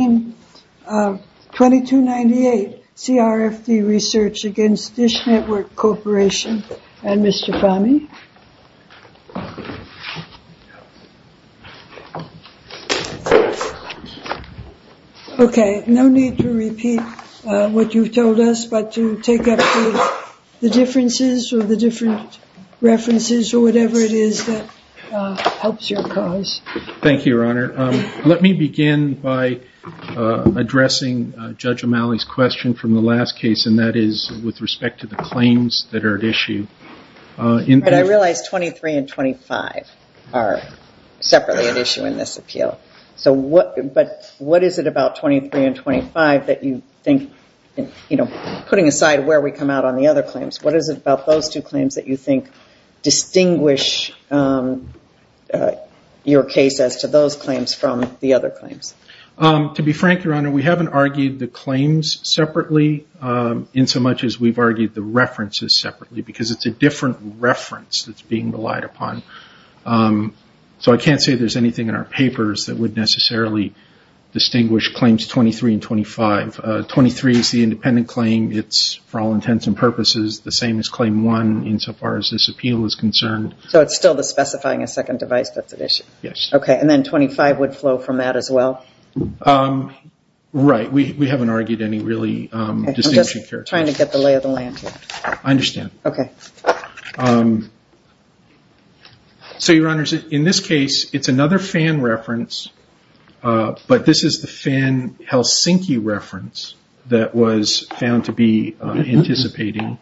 2298 CRFD Research against DISH Network Corporation and Mr. Fahmy. Okay, no need to repeat what you've told us, but to take up the differences or the different references or whatever it is that helps your cause. Thank you, Your Honor. Let me begin by addressing Judge O'Malley's question from the last case, and that is with respect to the claims that are at issue. I realize 23 and 25 are separately at issue in this appeal, but what is it about 23 and 25 that you think, putting aside where we come out on the other claims, what is it about those two claims that you think distinguish your case as to those claims from the other claims? To be frank, Your Honor, we haven't argued the claims separately in so much as we've argued the references separately, because it's a different reference that's being relied upon. So I can't say there's anything in our papers that would necessarily distinguish claims 23 and 25. 23 is the independent claim. It's, for all intents and purposes, the same as Claim 1 insofar as this appeal is concerned. So it's still the specifying a second device that's at issue? Yes. Okay, and then 25 would flow from that as well? Right. We haven't argued any really distinction characteristics. Okay, I'm just trying to get the lay of the land here. I understand. Okay. So, Your Honors, in this case, it's another Fan reference, but this is the Fan-Helsinki reference that was found to be anticipating.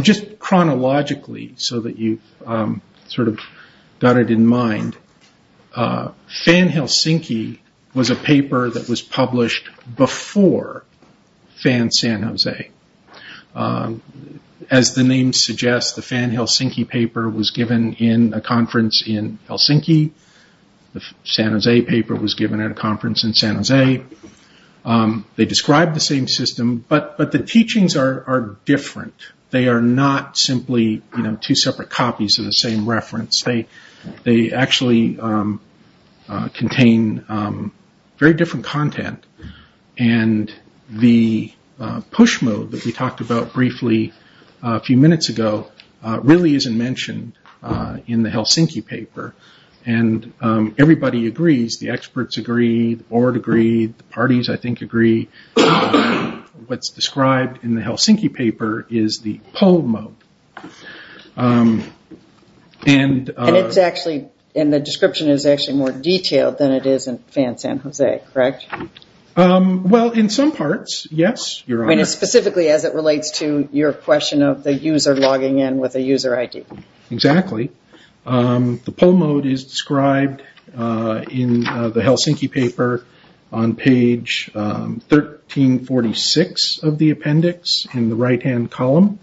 Just chronologically, so that you've got it in mind, Fan-Helsinki was a paper that was published before Fan-San Jose. As the name suggests, the Fan-Helsinki paper was given in a conference in Helsinki. The San Jose paper was given at a conference in San Jose. They describe the same system, but the teachings are different. They are not simply two separate copies of the same reference. They actually contain very different content. The push mode that we talked about briefly a few minutes ago really isn't mentioned in the Helsinki paper. Everybody agrees. The experts agree. The board agrees. The parties, I think, agree. What's described in the Helsinki paper is the pull mode. And the description is actually more detailed than it is in Fan-San Jose, correct? Well, in some parts, yes, Your Honors. Specifically as it relates to your question of the user logging in with a user ID. Exactly. The pull mode is described in the Helsinki paper on page 1346 of the appendix in the right-hand column.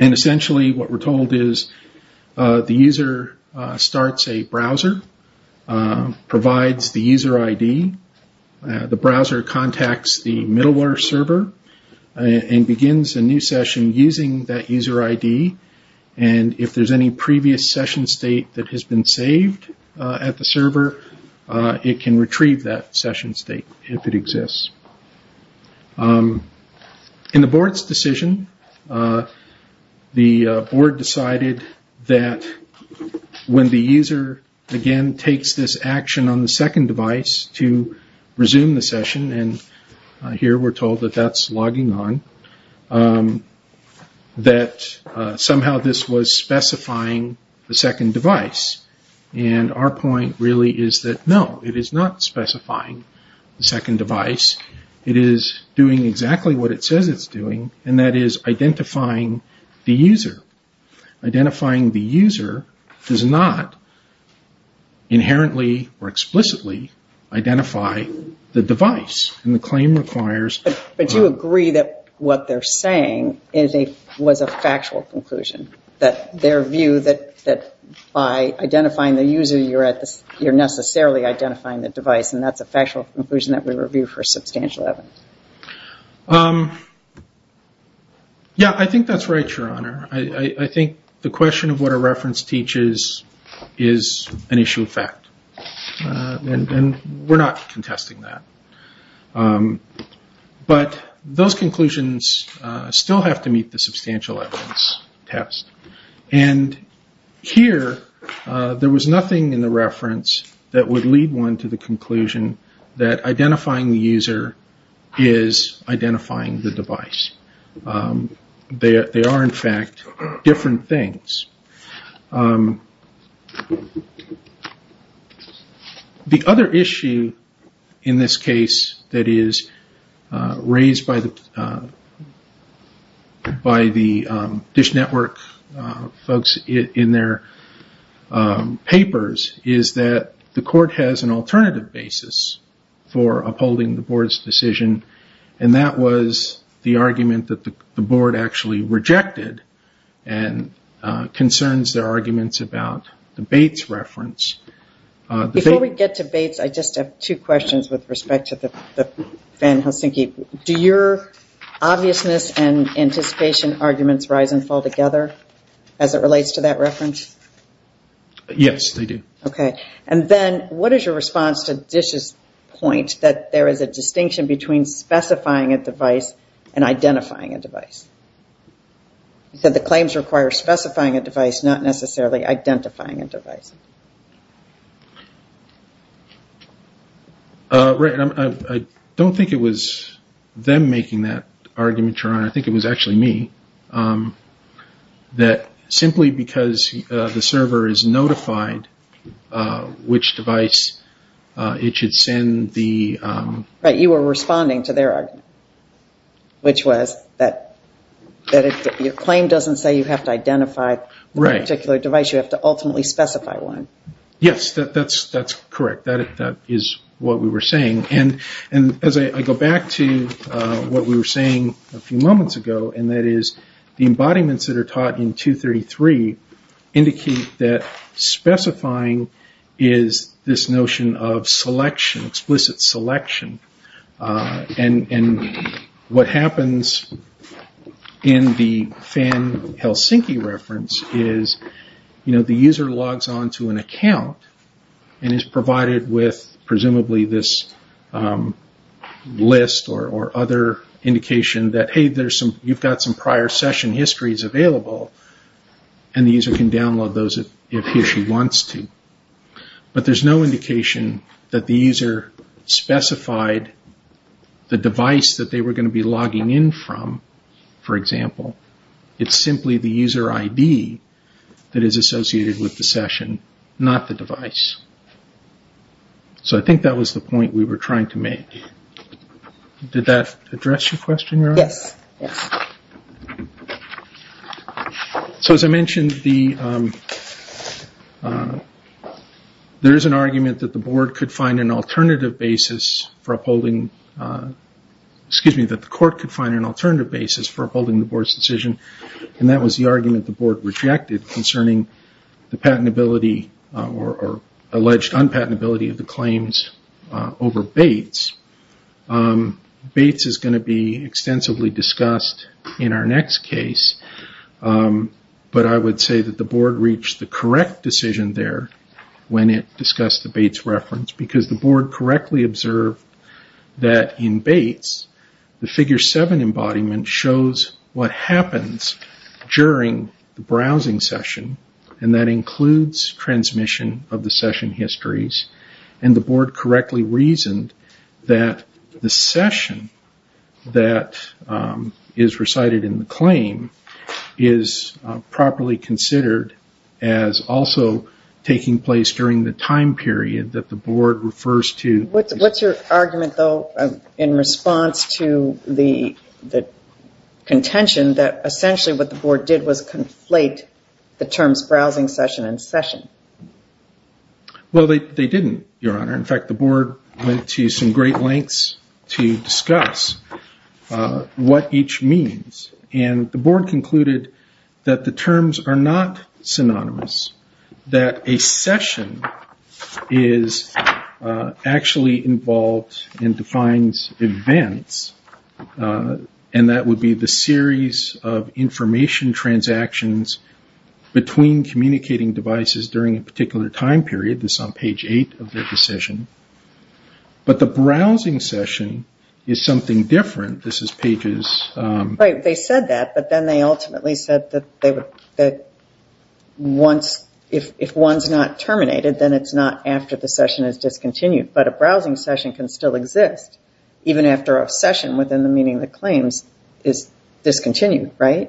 And essentially what we're told is the user starts a browser, provides the user ID. The browser contacts the middleware server and begins a new session using that user ID. And if there's any previous session state that has been saved at the server, it can retrieve that session state if it exists. In the board's decision, the board decided that when the user, again, takes this action on the second device to resume the session, and here we're told that that's logging on, that somehow this was specifying the second device. And our point really is that no, it is not specifying the second device. It is doing exactly what it says it's doing, and that is identifying the user. Identifying the user does not inherently or explicitly identify the device. And the claim requires... But you agree that what they're saying was a factual conclusion. That their view that by identifying the user, you're necessarily identifying the device, and that's a factual conclusion that we review for substantial evidence. Yeah, I think that's right, Your Honor. I think the question of what a reference teaches is an issue of fact. And we're not contesting that. But those conclusions still have to meet the substantial evidence test. And here, there was nothing in the reference that would lead one to the conclusion that identifying the user is identifying the device. They are, in fact, different things. The other issue in this case that is raised by the DISH Network folks in their papers is that the court has an alternative basis for upholding the board's decision. And that was the argument that the board actually rejected and concerns their arguments about the Bates reference. Before we get to Bates, I just have two questions with respect to Van Helsinki. Do your obviousness and anticipation arguments rise and fall together as it relates to that reference? Yes, they do. And then what is your response to DISH's point that there is a distinction between specifying a device and identifying a device? You said the claims require specifying a device, not necessarily identifying a device. I don't think it was them making that argument, Your Honor. I think it was actually me. That simply because the server is notified which device it should send the... You were responding to their argument, which was that your claim doesn't say you have to identify a particular device. You have to ultimately specify one. Yes, that's correct. That is what we were saying. And as I go back to what we were saying a few moments ago, and that is the embodiments that are taught in 233 indicate that specifying is this notion of selection, explicit selection. And what happens in the Van Helsinki reference is the user logs on to an account and is provided with presumably this list or other indication that, hey, you've got some prior session histories available and the user can download those if he or she wants to. But there's no indication that the user specified the device that they were going to be logging in from, for example. It's simply the user ID that is associated with the session, not the device. So I think that was the point we were trying to make. Did that address your question, Your Honor? Yes. So as I mentioned, there is an argument that the board could find an alternative basis for upholding... And that was the argument the board rejected concerning the patentability or alleged unpatentability of the claims over Bates. Bates is going to be extensively discussed in our next case. But I would say that the board reached the correct decision there when it discussed the Bates reference. Because the board correctly observed that in Bates, the figure 7 embodiment shows what happens during the browsing session. And that includes transmission of the session histories. And the board correctly reasoned that the session that is recited in the claim is properly considered as also taking place during the time period that the board is using. What's your argument, though, in response to the contention that essentially what the board did was conflate the terms browsing session and session? Well, they didn't, Your Honor. In fact, the board went to some great lengths to discuss what each means. And the board concluded that the terms are not synonymous. That a session is actually involved and defines events. And that would be the series of information transactions between communicating devices during a particular time period. This is on page 8 of their decision. But the browsing session is something different. They said that, but then they ultimately said that if one is not terminated, then it's not after the session is discontinued. But a browsing session can still exist even after a session within the meaning of the claims is discontinued. I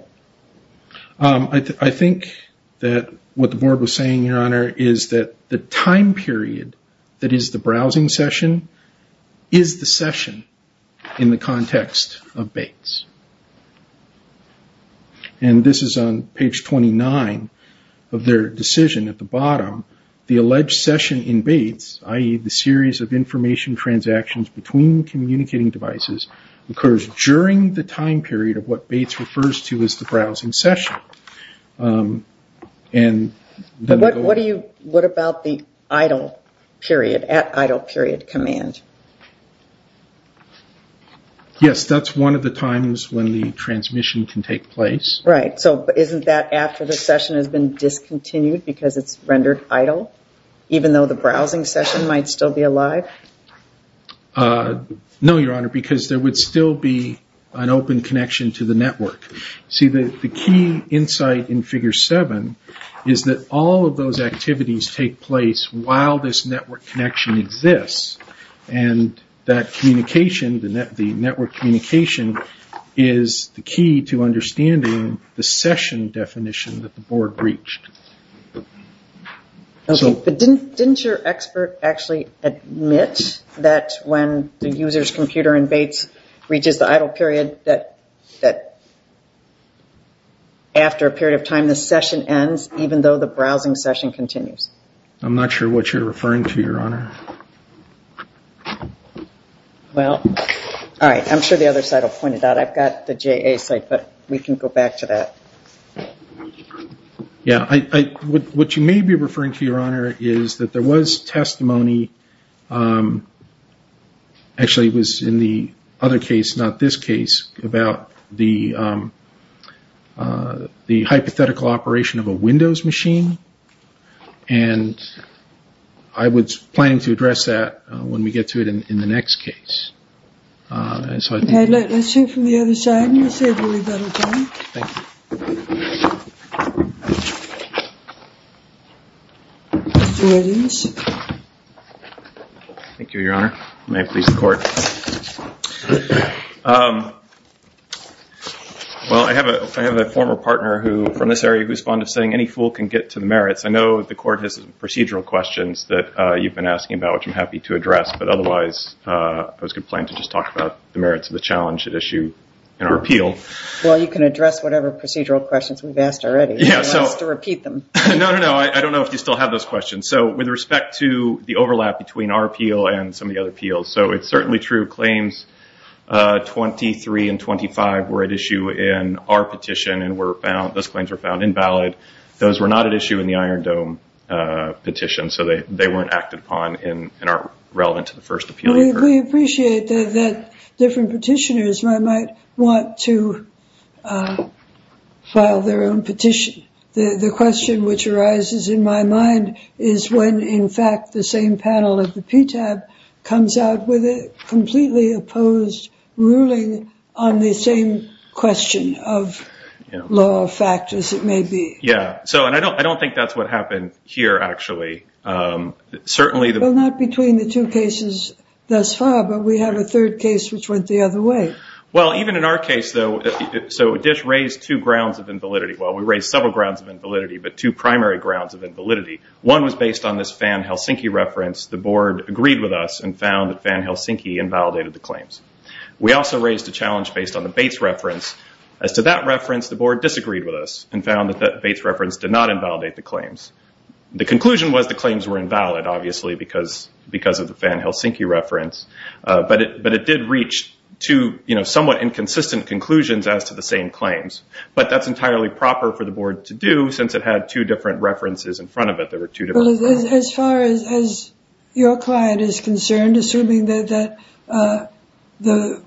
think that what the board was saying, Your Honor, is that the time period that is the browsing session is the session in the context of Bates. And this is on page 29 of their decision at the bottom. The alleged session in Bates, i.e. the series of information transactions between communicating devices, occurs during the time period of what Bates refers to as the browsing session. What about the idle period, at idle period command? Yes, that's one of the times when the transmission can take place. Right, so isn't that after the session has been discontinued because it's rendered idle? Even though the browsing session might still be alive? No, Your Honor, because there would still be an open connection to the network. See, the key insight in figure 7 is that all of those activities take place while this network connection exists. And that communication, the network communication, is the key to understanding the session definition that the board reached. Okay, but didn't your expert actually admit that when the user's computer in Bates reaches the idle period, that after a period of time the session ends, even though the browsing session continues? I'm not sure what you're referring to, Your Honor. Well, all right, I'm sure the other side will point it out. What you may be referring to, Your Honor, is that there was testimony, actually it was in the other case, not this case, about the hypothetical operation of a Windows machine, and I was planning to address that when we get to it in the next case. Okay, let's hear from the other side and we'll see if we leave that alone. Thank you, Your Honor. May it please the Court. Well, I have a former partner from this area who responded saying any fool can get to the merits. I know the Court has procedural questions that you've been asking about, which I'm happy to address, but otherwise I was going to plan to just talk about the merits of the challenge at issue in our appeal. Well, you can address whatever procedural questions we've asked already if you want us to repeat them. No, no, no, I don't know if you still have those questions. So with respect to the overlap between our appeal and some of the other appeals, so it's certainly true claims 23 and 25 were at issue in our petition and those claims were found invalid. Those were not at issue in the Iron Dome petition, so they weren't acted upon and aren't relevant to the first appeal. We appreciate that different petitioners might want to file their own petition. The question which arises in my mind is when, in fact, the same panel at the PTAB comes out with a completely opposed ruling on the same question of law or fact as it may be. Yeah, and I don't think that's what happened here, actually. Well, not between the two cases thus far, but we have a third case which went the other way. Well, even in our case, though, so Dish raised two grounds of invalidity. Well, we raised several grounds of invalidity, but two primary grounds of invalidity. One was based on this Fan-Helsinki reference. The Board agreed with us and found that Fan-Helsinki invalidated the claims. We also raised a challenge based on the Bates reference. As to that reference, the Board disagreed with us and found that the Bates reference did not invalidate the claims. The conclusion was the claims were invalid, obviously, because of the Fan-Helsinki reference, but it did reach two somewhat inconsistent conclusions as to the same claims. But that's entirely proper for the Board to do since it had two different references in front of it. Well, as far as your client is concerned, assuming that the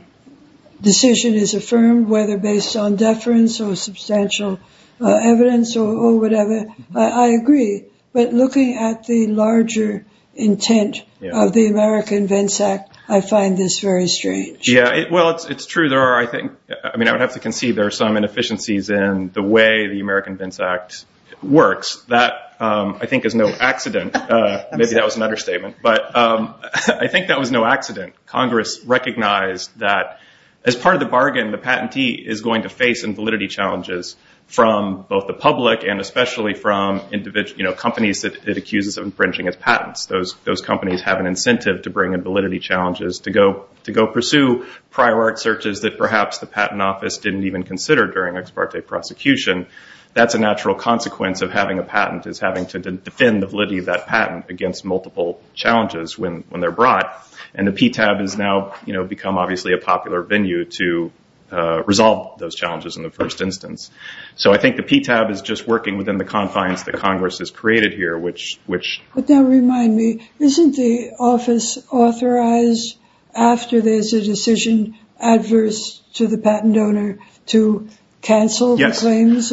decision is affirmed, whether based on deference or substantial evidence or whatever, I agree. But looking at the larger intent of the American Vence Act, I find this very strange. Yeah, well, it's true. I mean, I would have to concede there are some inefficiencies in the way the American Vence Act works. That, I think, is no accident. Maybe that was an understatement, but I think that was no accident. Congress recognized that as part of the bargain, the patentee is going to face invalidity challenges from both the public and especially from companies that it accuses of infringing its patents. Those companies have an incentive to bring in validity challenges, to go pursue prior art searches that perhaps the patent office didn't even consider during ex parte prosecution. That's a natural consequence of having a patent, is having to defend the validity of that patent against multiple challenges when they're brought. And the PTAB has now become obviously a popular venue to resolve those challenges in the first instance. So I think the PTAB is just working within the confines that Congress has created here, which... But now remind me, isn't the office authorized after there's a decision adverse to the patent owner to cancel the claims?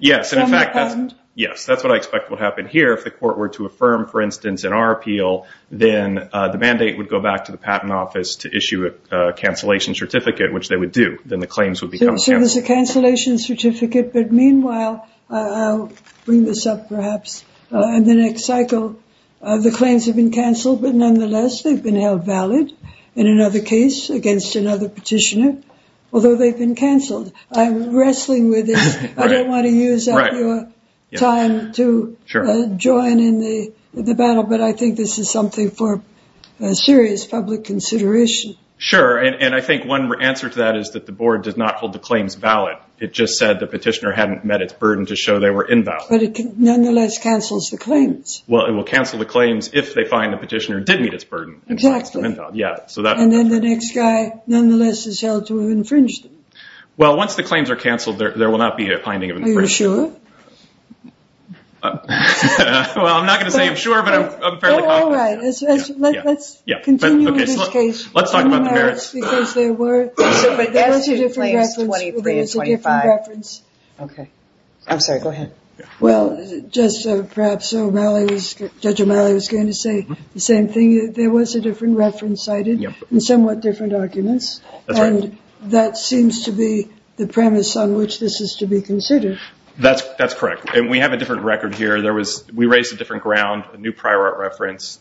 Yes, and in fact, that's what I expect will happen here. If the court were to affirm, for instance, in our appeal, then the mandate would go back to the patent office to issue a cancellation certificate, which they would do. So there's a cancellation certificate, but meanwhile, I'll bring this up perhaps in the next cycle, the claims have been canceled, but nonetheless they've been held valid in another case against another petitioner, although they've been canceled. I'm wrestling with this. I don't want to use up your time to join in the battle, but I think this is something for serious public consideration. Sure, and I think one answer to that is that the board does not hold the claims valid. It just said the petitioner hadn't met its burden to show they were invalid. But it nonetheless cancels the claims. Well, it will cancel the claims if they find the petitioner did meet its burden. And then the next guy nonetheless is held to have infringed them. Well, once the claims are canceled, there will not be a finding of infringement. Are you sure? Well, I'm not going to say I'm sure, but I'm fairly confident. Let's continue with this case. Judge O'Malley was going to say the same thing. There was a different reference cited and somewhat different arguments, and that seems to be the premise on which this is to be considered. That's correct, and we have a different record here. We raised a different ground, a new prior reference,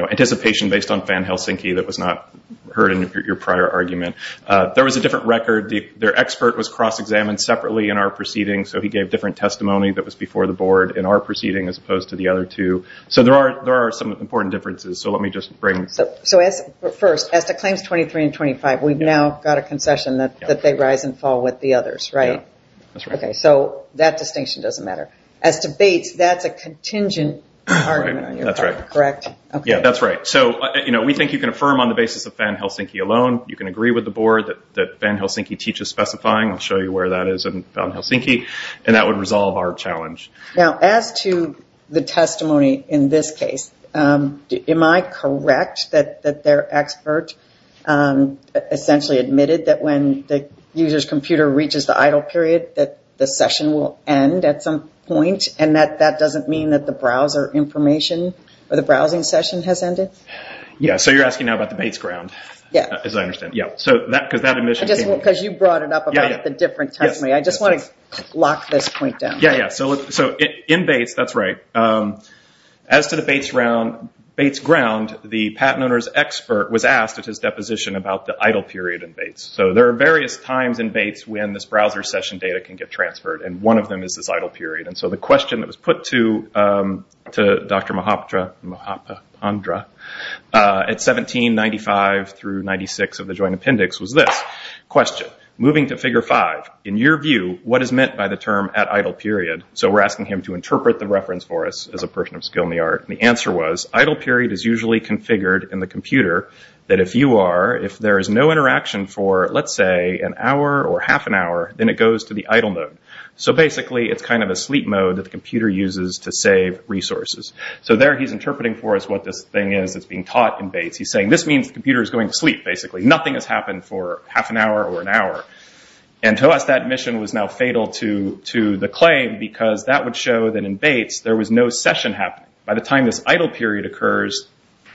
anticipation based on Van Helsinki that was not heard in your prior argument. There was a different record. Their expert was cross-examined separately in our proceeding, so he gave different testimony that was before the board in our proceeding as opposed to the other two. First, as to claims 23 and 25, we've now got a concession that they rise and fall with the others, right? So that distinction doesn't matter. As to Bates, that's a contingent argument, correct? That's right. We think you can affirm on the basis of Van Helsinki alone. You can agree with the board that Van Helsinki teaches specifying. I'll show you where that is in Van Helsinki, and that would resolve our challenge. As to the testimony in this case, am I correct that their expert essentially admitted that when the user's computer reaches the idle period, that the session will end at some point, and that that doesn't mean that the browser information or the browsing session has ended? You're asking now about the Bates ground, as I understand it. Because you brought it up about the different testimony. I just want to lock this point down. In Bates, that's right. As to the Bates ground, the patent owner's expert was asked at his deposition about the idle period in Bates. So there are various times in Bates when this browser session data can get transferred, and one of them is this idle period. So the question that was put to Dr. Mahapandra at 1795-96 of the Joint Appendix was this question. Moving to Figure 5, in your view, what is meant by the term at idle period? So we're asking him to interpret the reference for us as a person of skill in the art. The answer was, idle period is usually configured in the computer that if there is no interaction for, let's say, an hour or half an hour, then it goes to the idle mode. So basically it's kind of a sleep mode that the computer uses to save resources. So there he's interpreting for us what this thing is that's being taught in Bates. He's saying this means the computer is going to sleep, basically. Nothing has happened for half an hour or an hour. To us, that mission was now fatal to the claim, because that would show that in Bates there was no session happening. By the time this idle period occurs,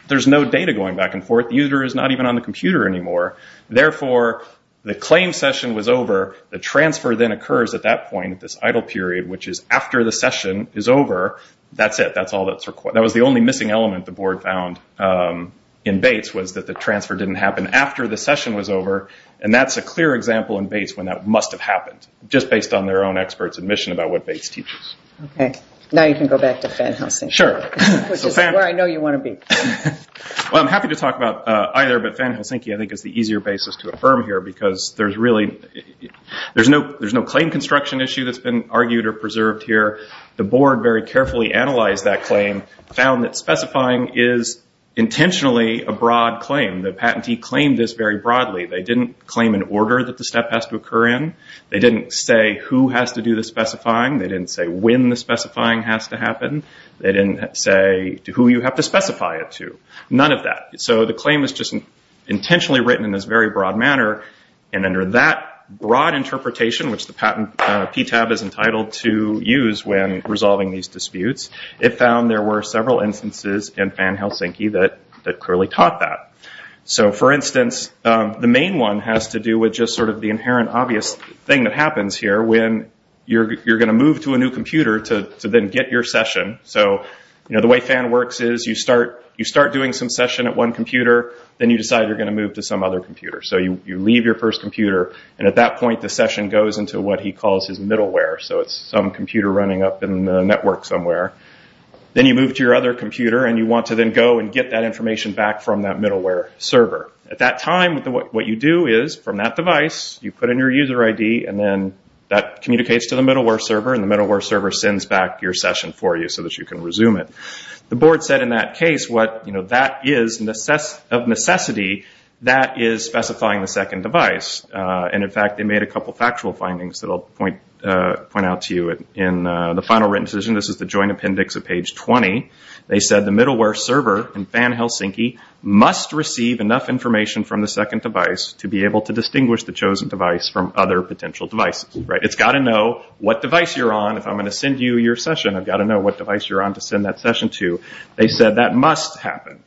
there's no data going back and forth. The user is not even on the computer anymore. Therefore, the claim session was over. The transfer then occurs at that point, at this idle period, which is after the session is over. That's it. That was the only missing element the board found in Bates, was that the transfer didn't happen after the session was over. That's a clear example in Bates when that must have happened, just based on their own experts' admission about what Bates teaches. Now you can go back to Fan Helsinki, which is where I know you want to be. I'm happy to talk about either, but Fan Helsinki I think is the easier basis to affirm here, because there's no claim construction issue that's been argued or preserved here. The board very carefully analyzed that claim, found that specifying is intentionally a broad claim. The patentee claimed this very broadly. They didn't claim an order that the step has to occur in. They didn't say who has to do the specifying. They didn't say when the specifying has to happen. They didn't say who you have to specify it to. None of that. The claim is just intentionally written in this very broad manner, and under that broad interpretation, which the PTAB is entitled to use when resolving these disputes, it found there were several instances in Fan Helsinki that clearly taught that. For instance, the main one has to do with the inherent obvious thing that happens here when you're going to move to a new computer to then get your session. The way Fan works is you start doing some session at one computer, then you decide you're going to move to some other computer. You leave your first computer, and at that point the session goes into what he calls his middleware. It's some computer running up in the network somewhere. Then you move to your other computer, and you want to then go and get that information back from that middleware server. At that time, what you do is, from that device, you put in your user ID, and that communicates to the middleware server, and the middleware server sends back your session for you so that you can resume it. The board said in that case, of necessity, that is specifying the second device. In fact, they made a couple of factual findings that I'll point out to you. In the final written decision, this is the joint appendix of page 20, they said the middleware server in Fan Helsinki must receive enough information from the second device to be able to distinguish the chosen device from other potential devices. It's got to know what device you're on. If I'm going to send you your session, I've got to know what device you're on to send that session to. They said that must happen.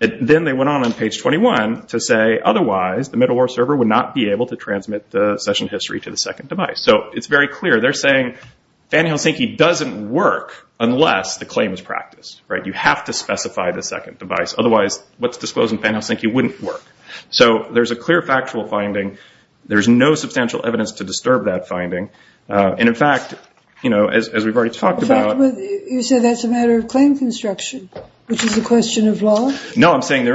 Then they went on page 21 to say, otherwise, the middleware server would not be able to transmit the session history to the second device. It's very clear. They're saying Fan Helsinki doesn't work unless the claim is practiced. You have to specify the second device. Otherwise, what's disclosed in Fan Helsinki wouldn't work. There's a clear factual finding. There's no substantial evidence to disturb that finding. You said that's a matter of claim construction, which is a question of law? No, I'm saying there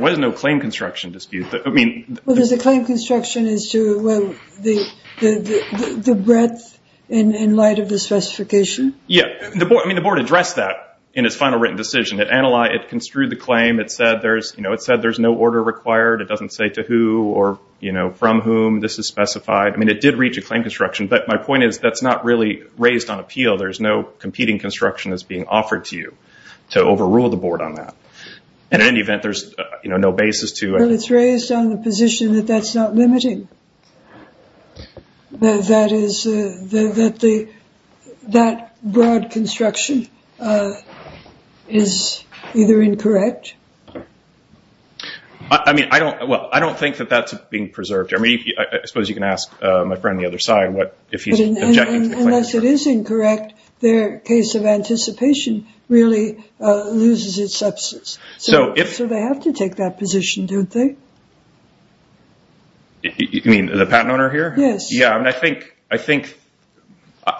was no claim construction dispute. There's a claim construction as to the breadth in light of the specification? Yeah. The board addressed that in its final written decision. It construed the claim. It said there's no order required. It doesn't say to who or from whom this is specified. It did reach a claim construction, but my point is that's not really raised on appeal. There's no competing construction that's being offered to you to overrule the board on that. In any event, there's no basis to... But it's raised on the position that that's not limiting, that that broad construction is either incorrect? I don't think that that's being preserved. I suppose you can ask my friend on the other side if he's objecting to the claim construction. Unless it is incorrect, their case of anticipation really loses its substance. So they have to take that position, don't they?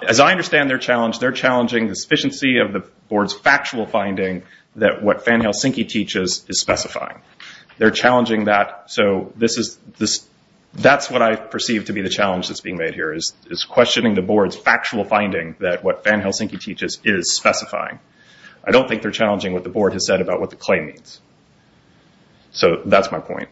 As I understand their challenge, they're challenging the sufficiency of the board's factual finding that what Fan-Helsinki teaches is specifying. That's what I perceive to be the challenge that's being made here, is questioning the board's factual finding that what Fan-Helsinki teaches is specifying. I don't think they're challenging what the board has said about what the claim means. That's my point.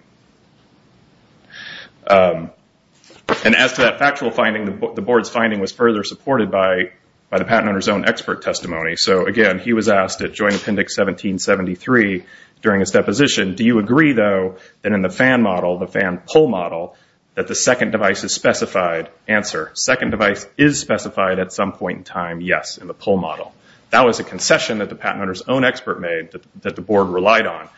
As to that factual finding, the board's finding was further supported by the patent owner's own expert testimony. Again, he was asked at Joint Appendix 1773 during his deposition, do you agree, though, that in the Fan model, the Fan-Pull model, that the second device is specified? Answer, second device is specified at some point in time, yes, in the Pull model. That was a concession that the patent owner's own expert made that the board relied on.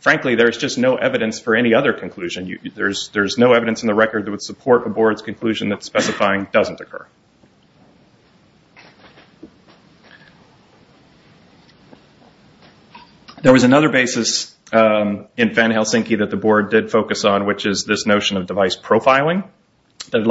Frankly, there's just no evidence for any other conclusion. There's no evidence in the record that would support a board's conclusion that specifying doesn't occur. There was another basis in Fan-Helsinki that the board did focus on, which is this notion of device profiling. Here,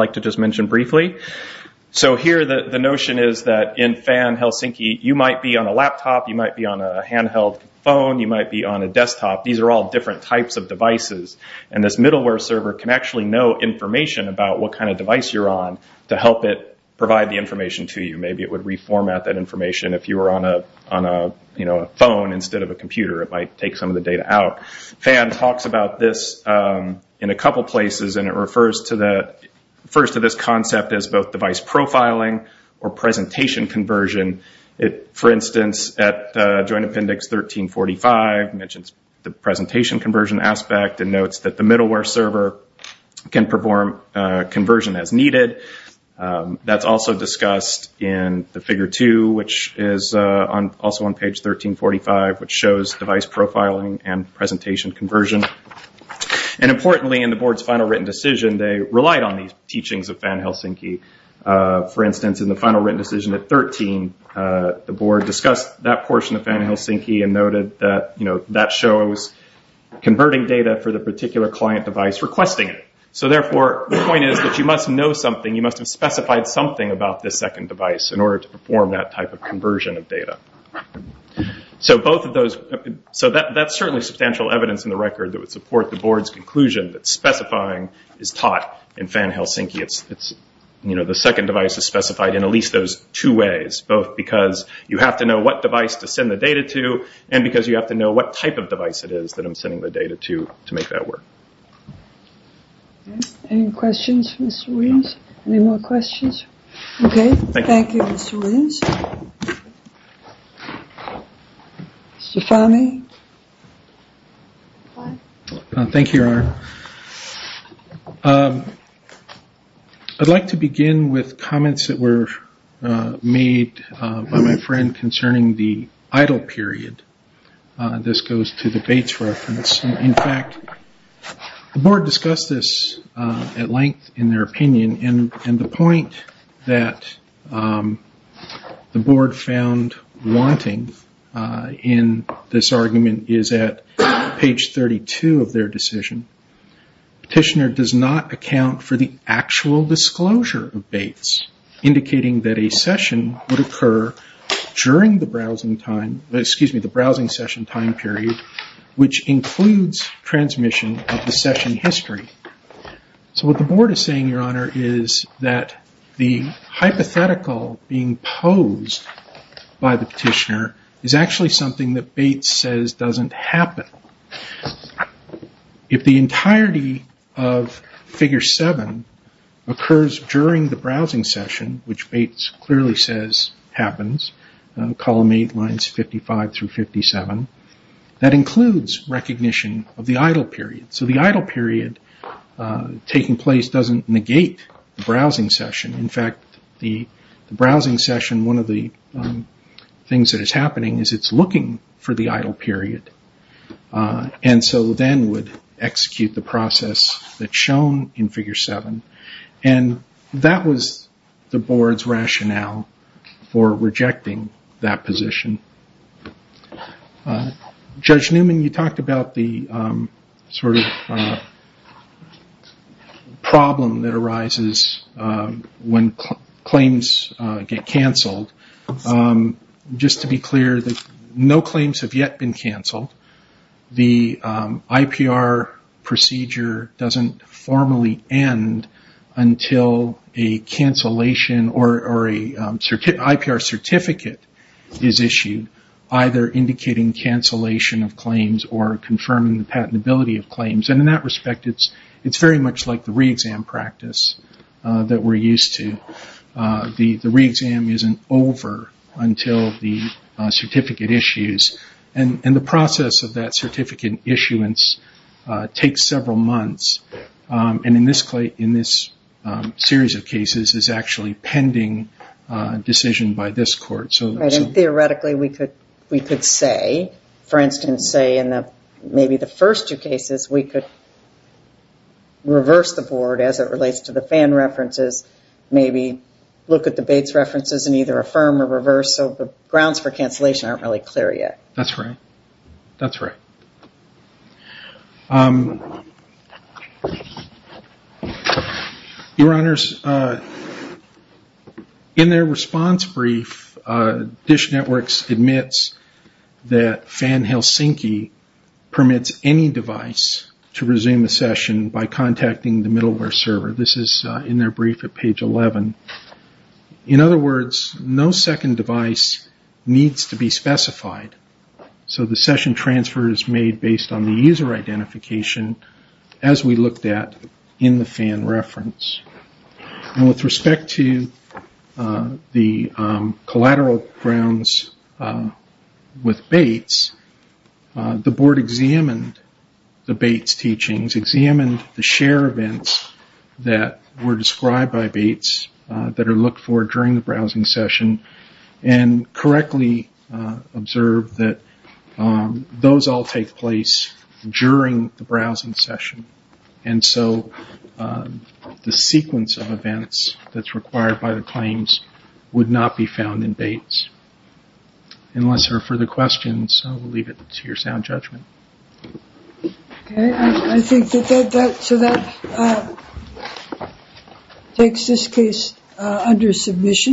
the notion is that in Fan-Helsinki, you might be on a laptop, you might be on a handheld phone, you might be on a desktop. These are all different types of devices. This middleware server can actually know information about what kind of device you're on to help it provide the information to you. Maybe it would reformat that information if you were on a phone instead of a computer. It might take some of the data out. Fan talks about this in a couple places. It refers to this concept as both device profiling or presentation conversion. For instance, at Joint Appendix 1345, it mentions the presentation conversion aspect and notes that the middleware server can perform conversion as needed. That's also discussed in the Figure 2, which is also on page 1345, which shows device profiling and presentation conversion. Importantly, in the board's final written decision, they relied on the teachings of Fan-Helsinki. For instance, in the final written decision at 13, the board discussed that portion of Fan-Helsinki and noted that that shows converting data for the particular client device requesting it. Therefore, the point is that you must know something, you must have specified something about this second device in order to perform that type of conversion of data. That's certainly substantial evidence in the record that would support the board's conclusion that specifying is taught in Fan-Helsinki. The second device is specified in at least those two ways, both because you have to know what device to send the data to and because you have to know what type of device it is that I'm sending the data to to make that work. Any questions for Mr. Williams? Any more questions? I'd like to begin with comments that were made by my friend concerning the idle period. This goes to the Bates reference. In fact, the board discussed this at length in their opinion. The point that the board found wanting in this argument is at page 32 of their decision. Petitioner does not account for the actual disclosure of Bates, indicating that a session would occur during the browsing session time period, which includes transmission of the session history. What the board is saying, Your Honor, is that the hypothetical being posed by the petitioner is actually something that Bates says doesn't happen. If the entirety of Figure 7 occurs during the browsing session, which Bates clearly says happens, column 8, lines 55 through 57, that includes recognition of the idle period. So the idle period taking place doesn't negate the browsing session. In fact, the browsing session, one of the things that is happening is it's looking for the idle period. And so then would execute the process that's shown in Figure 7. That was the board's rationale for rejecting that position. Judge Newman, you talked about the problem that arises when claims get canceled. Just to be clear, no claims have yet been canceled. The IPR procedure doesn't formally end until a cancellation or an IPR certificate is issued, either indicating cancellation of claims or confirming the patentability of claims. In that respect, it's very much like the re-exam practice that we're used to. The re-exam isn't over until the certificate issues. The process of that certificate issuance takes several months. In this series of cases, it's actually pending decision by this court. Theoretically, we could say, for instance, say in maybe the first two cases, we could reverse the board as it relates to the FAN references, maybe look at the Bates references and either affirm or reverse, so the grounds for cancellation aren't really clear yet. Your Honors, in their response brief, DISH Networks admits that FAN Helsinki permits any device to resume a session by contacting the middleware server. This is in their brief at page 11. In other words, no second device needs to be specified, so the session transfer is made based on the user identification, as we looked at in the FAN reference. With respect to the collateral grounds with Bates, the board examined the Bates teachings, examined the share events that were described by Bates that are looked for during the browsing session, and correctly observed that those all take place during the browsing session. And so the sequence of events that's required by the claims would not be found in Bates. Unless there are further questions, we'll leave it to your sound judgment. I think that that takes this case under submission.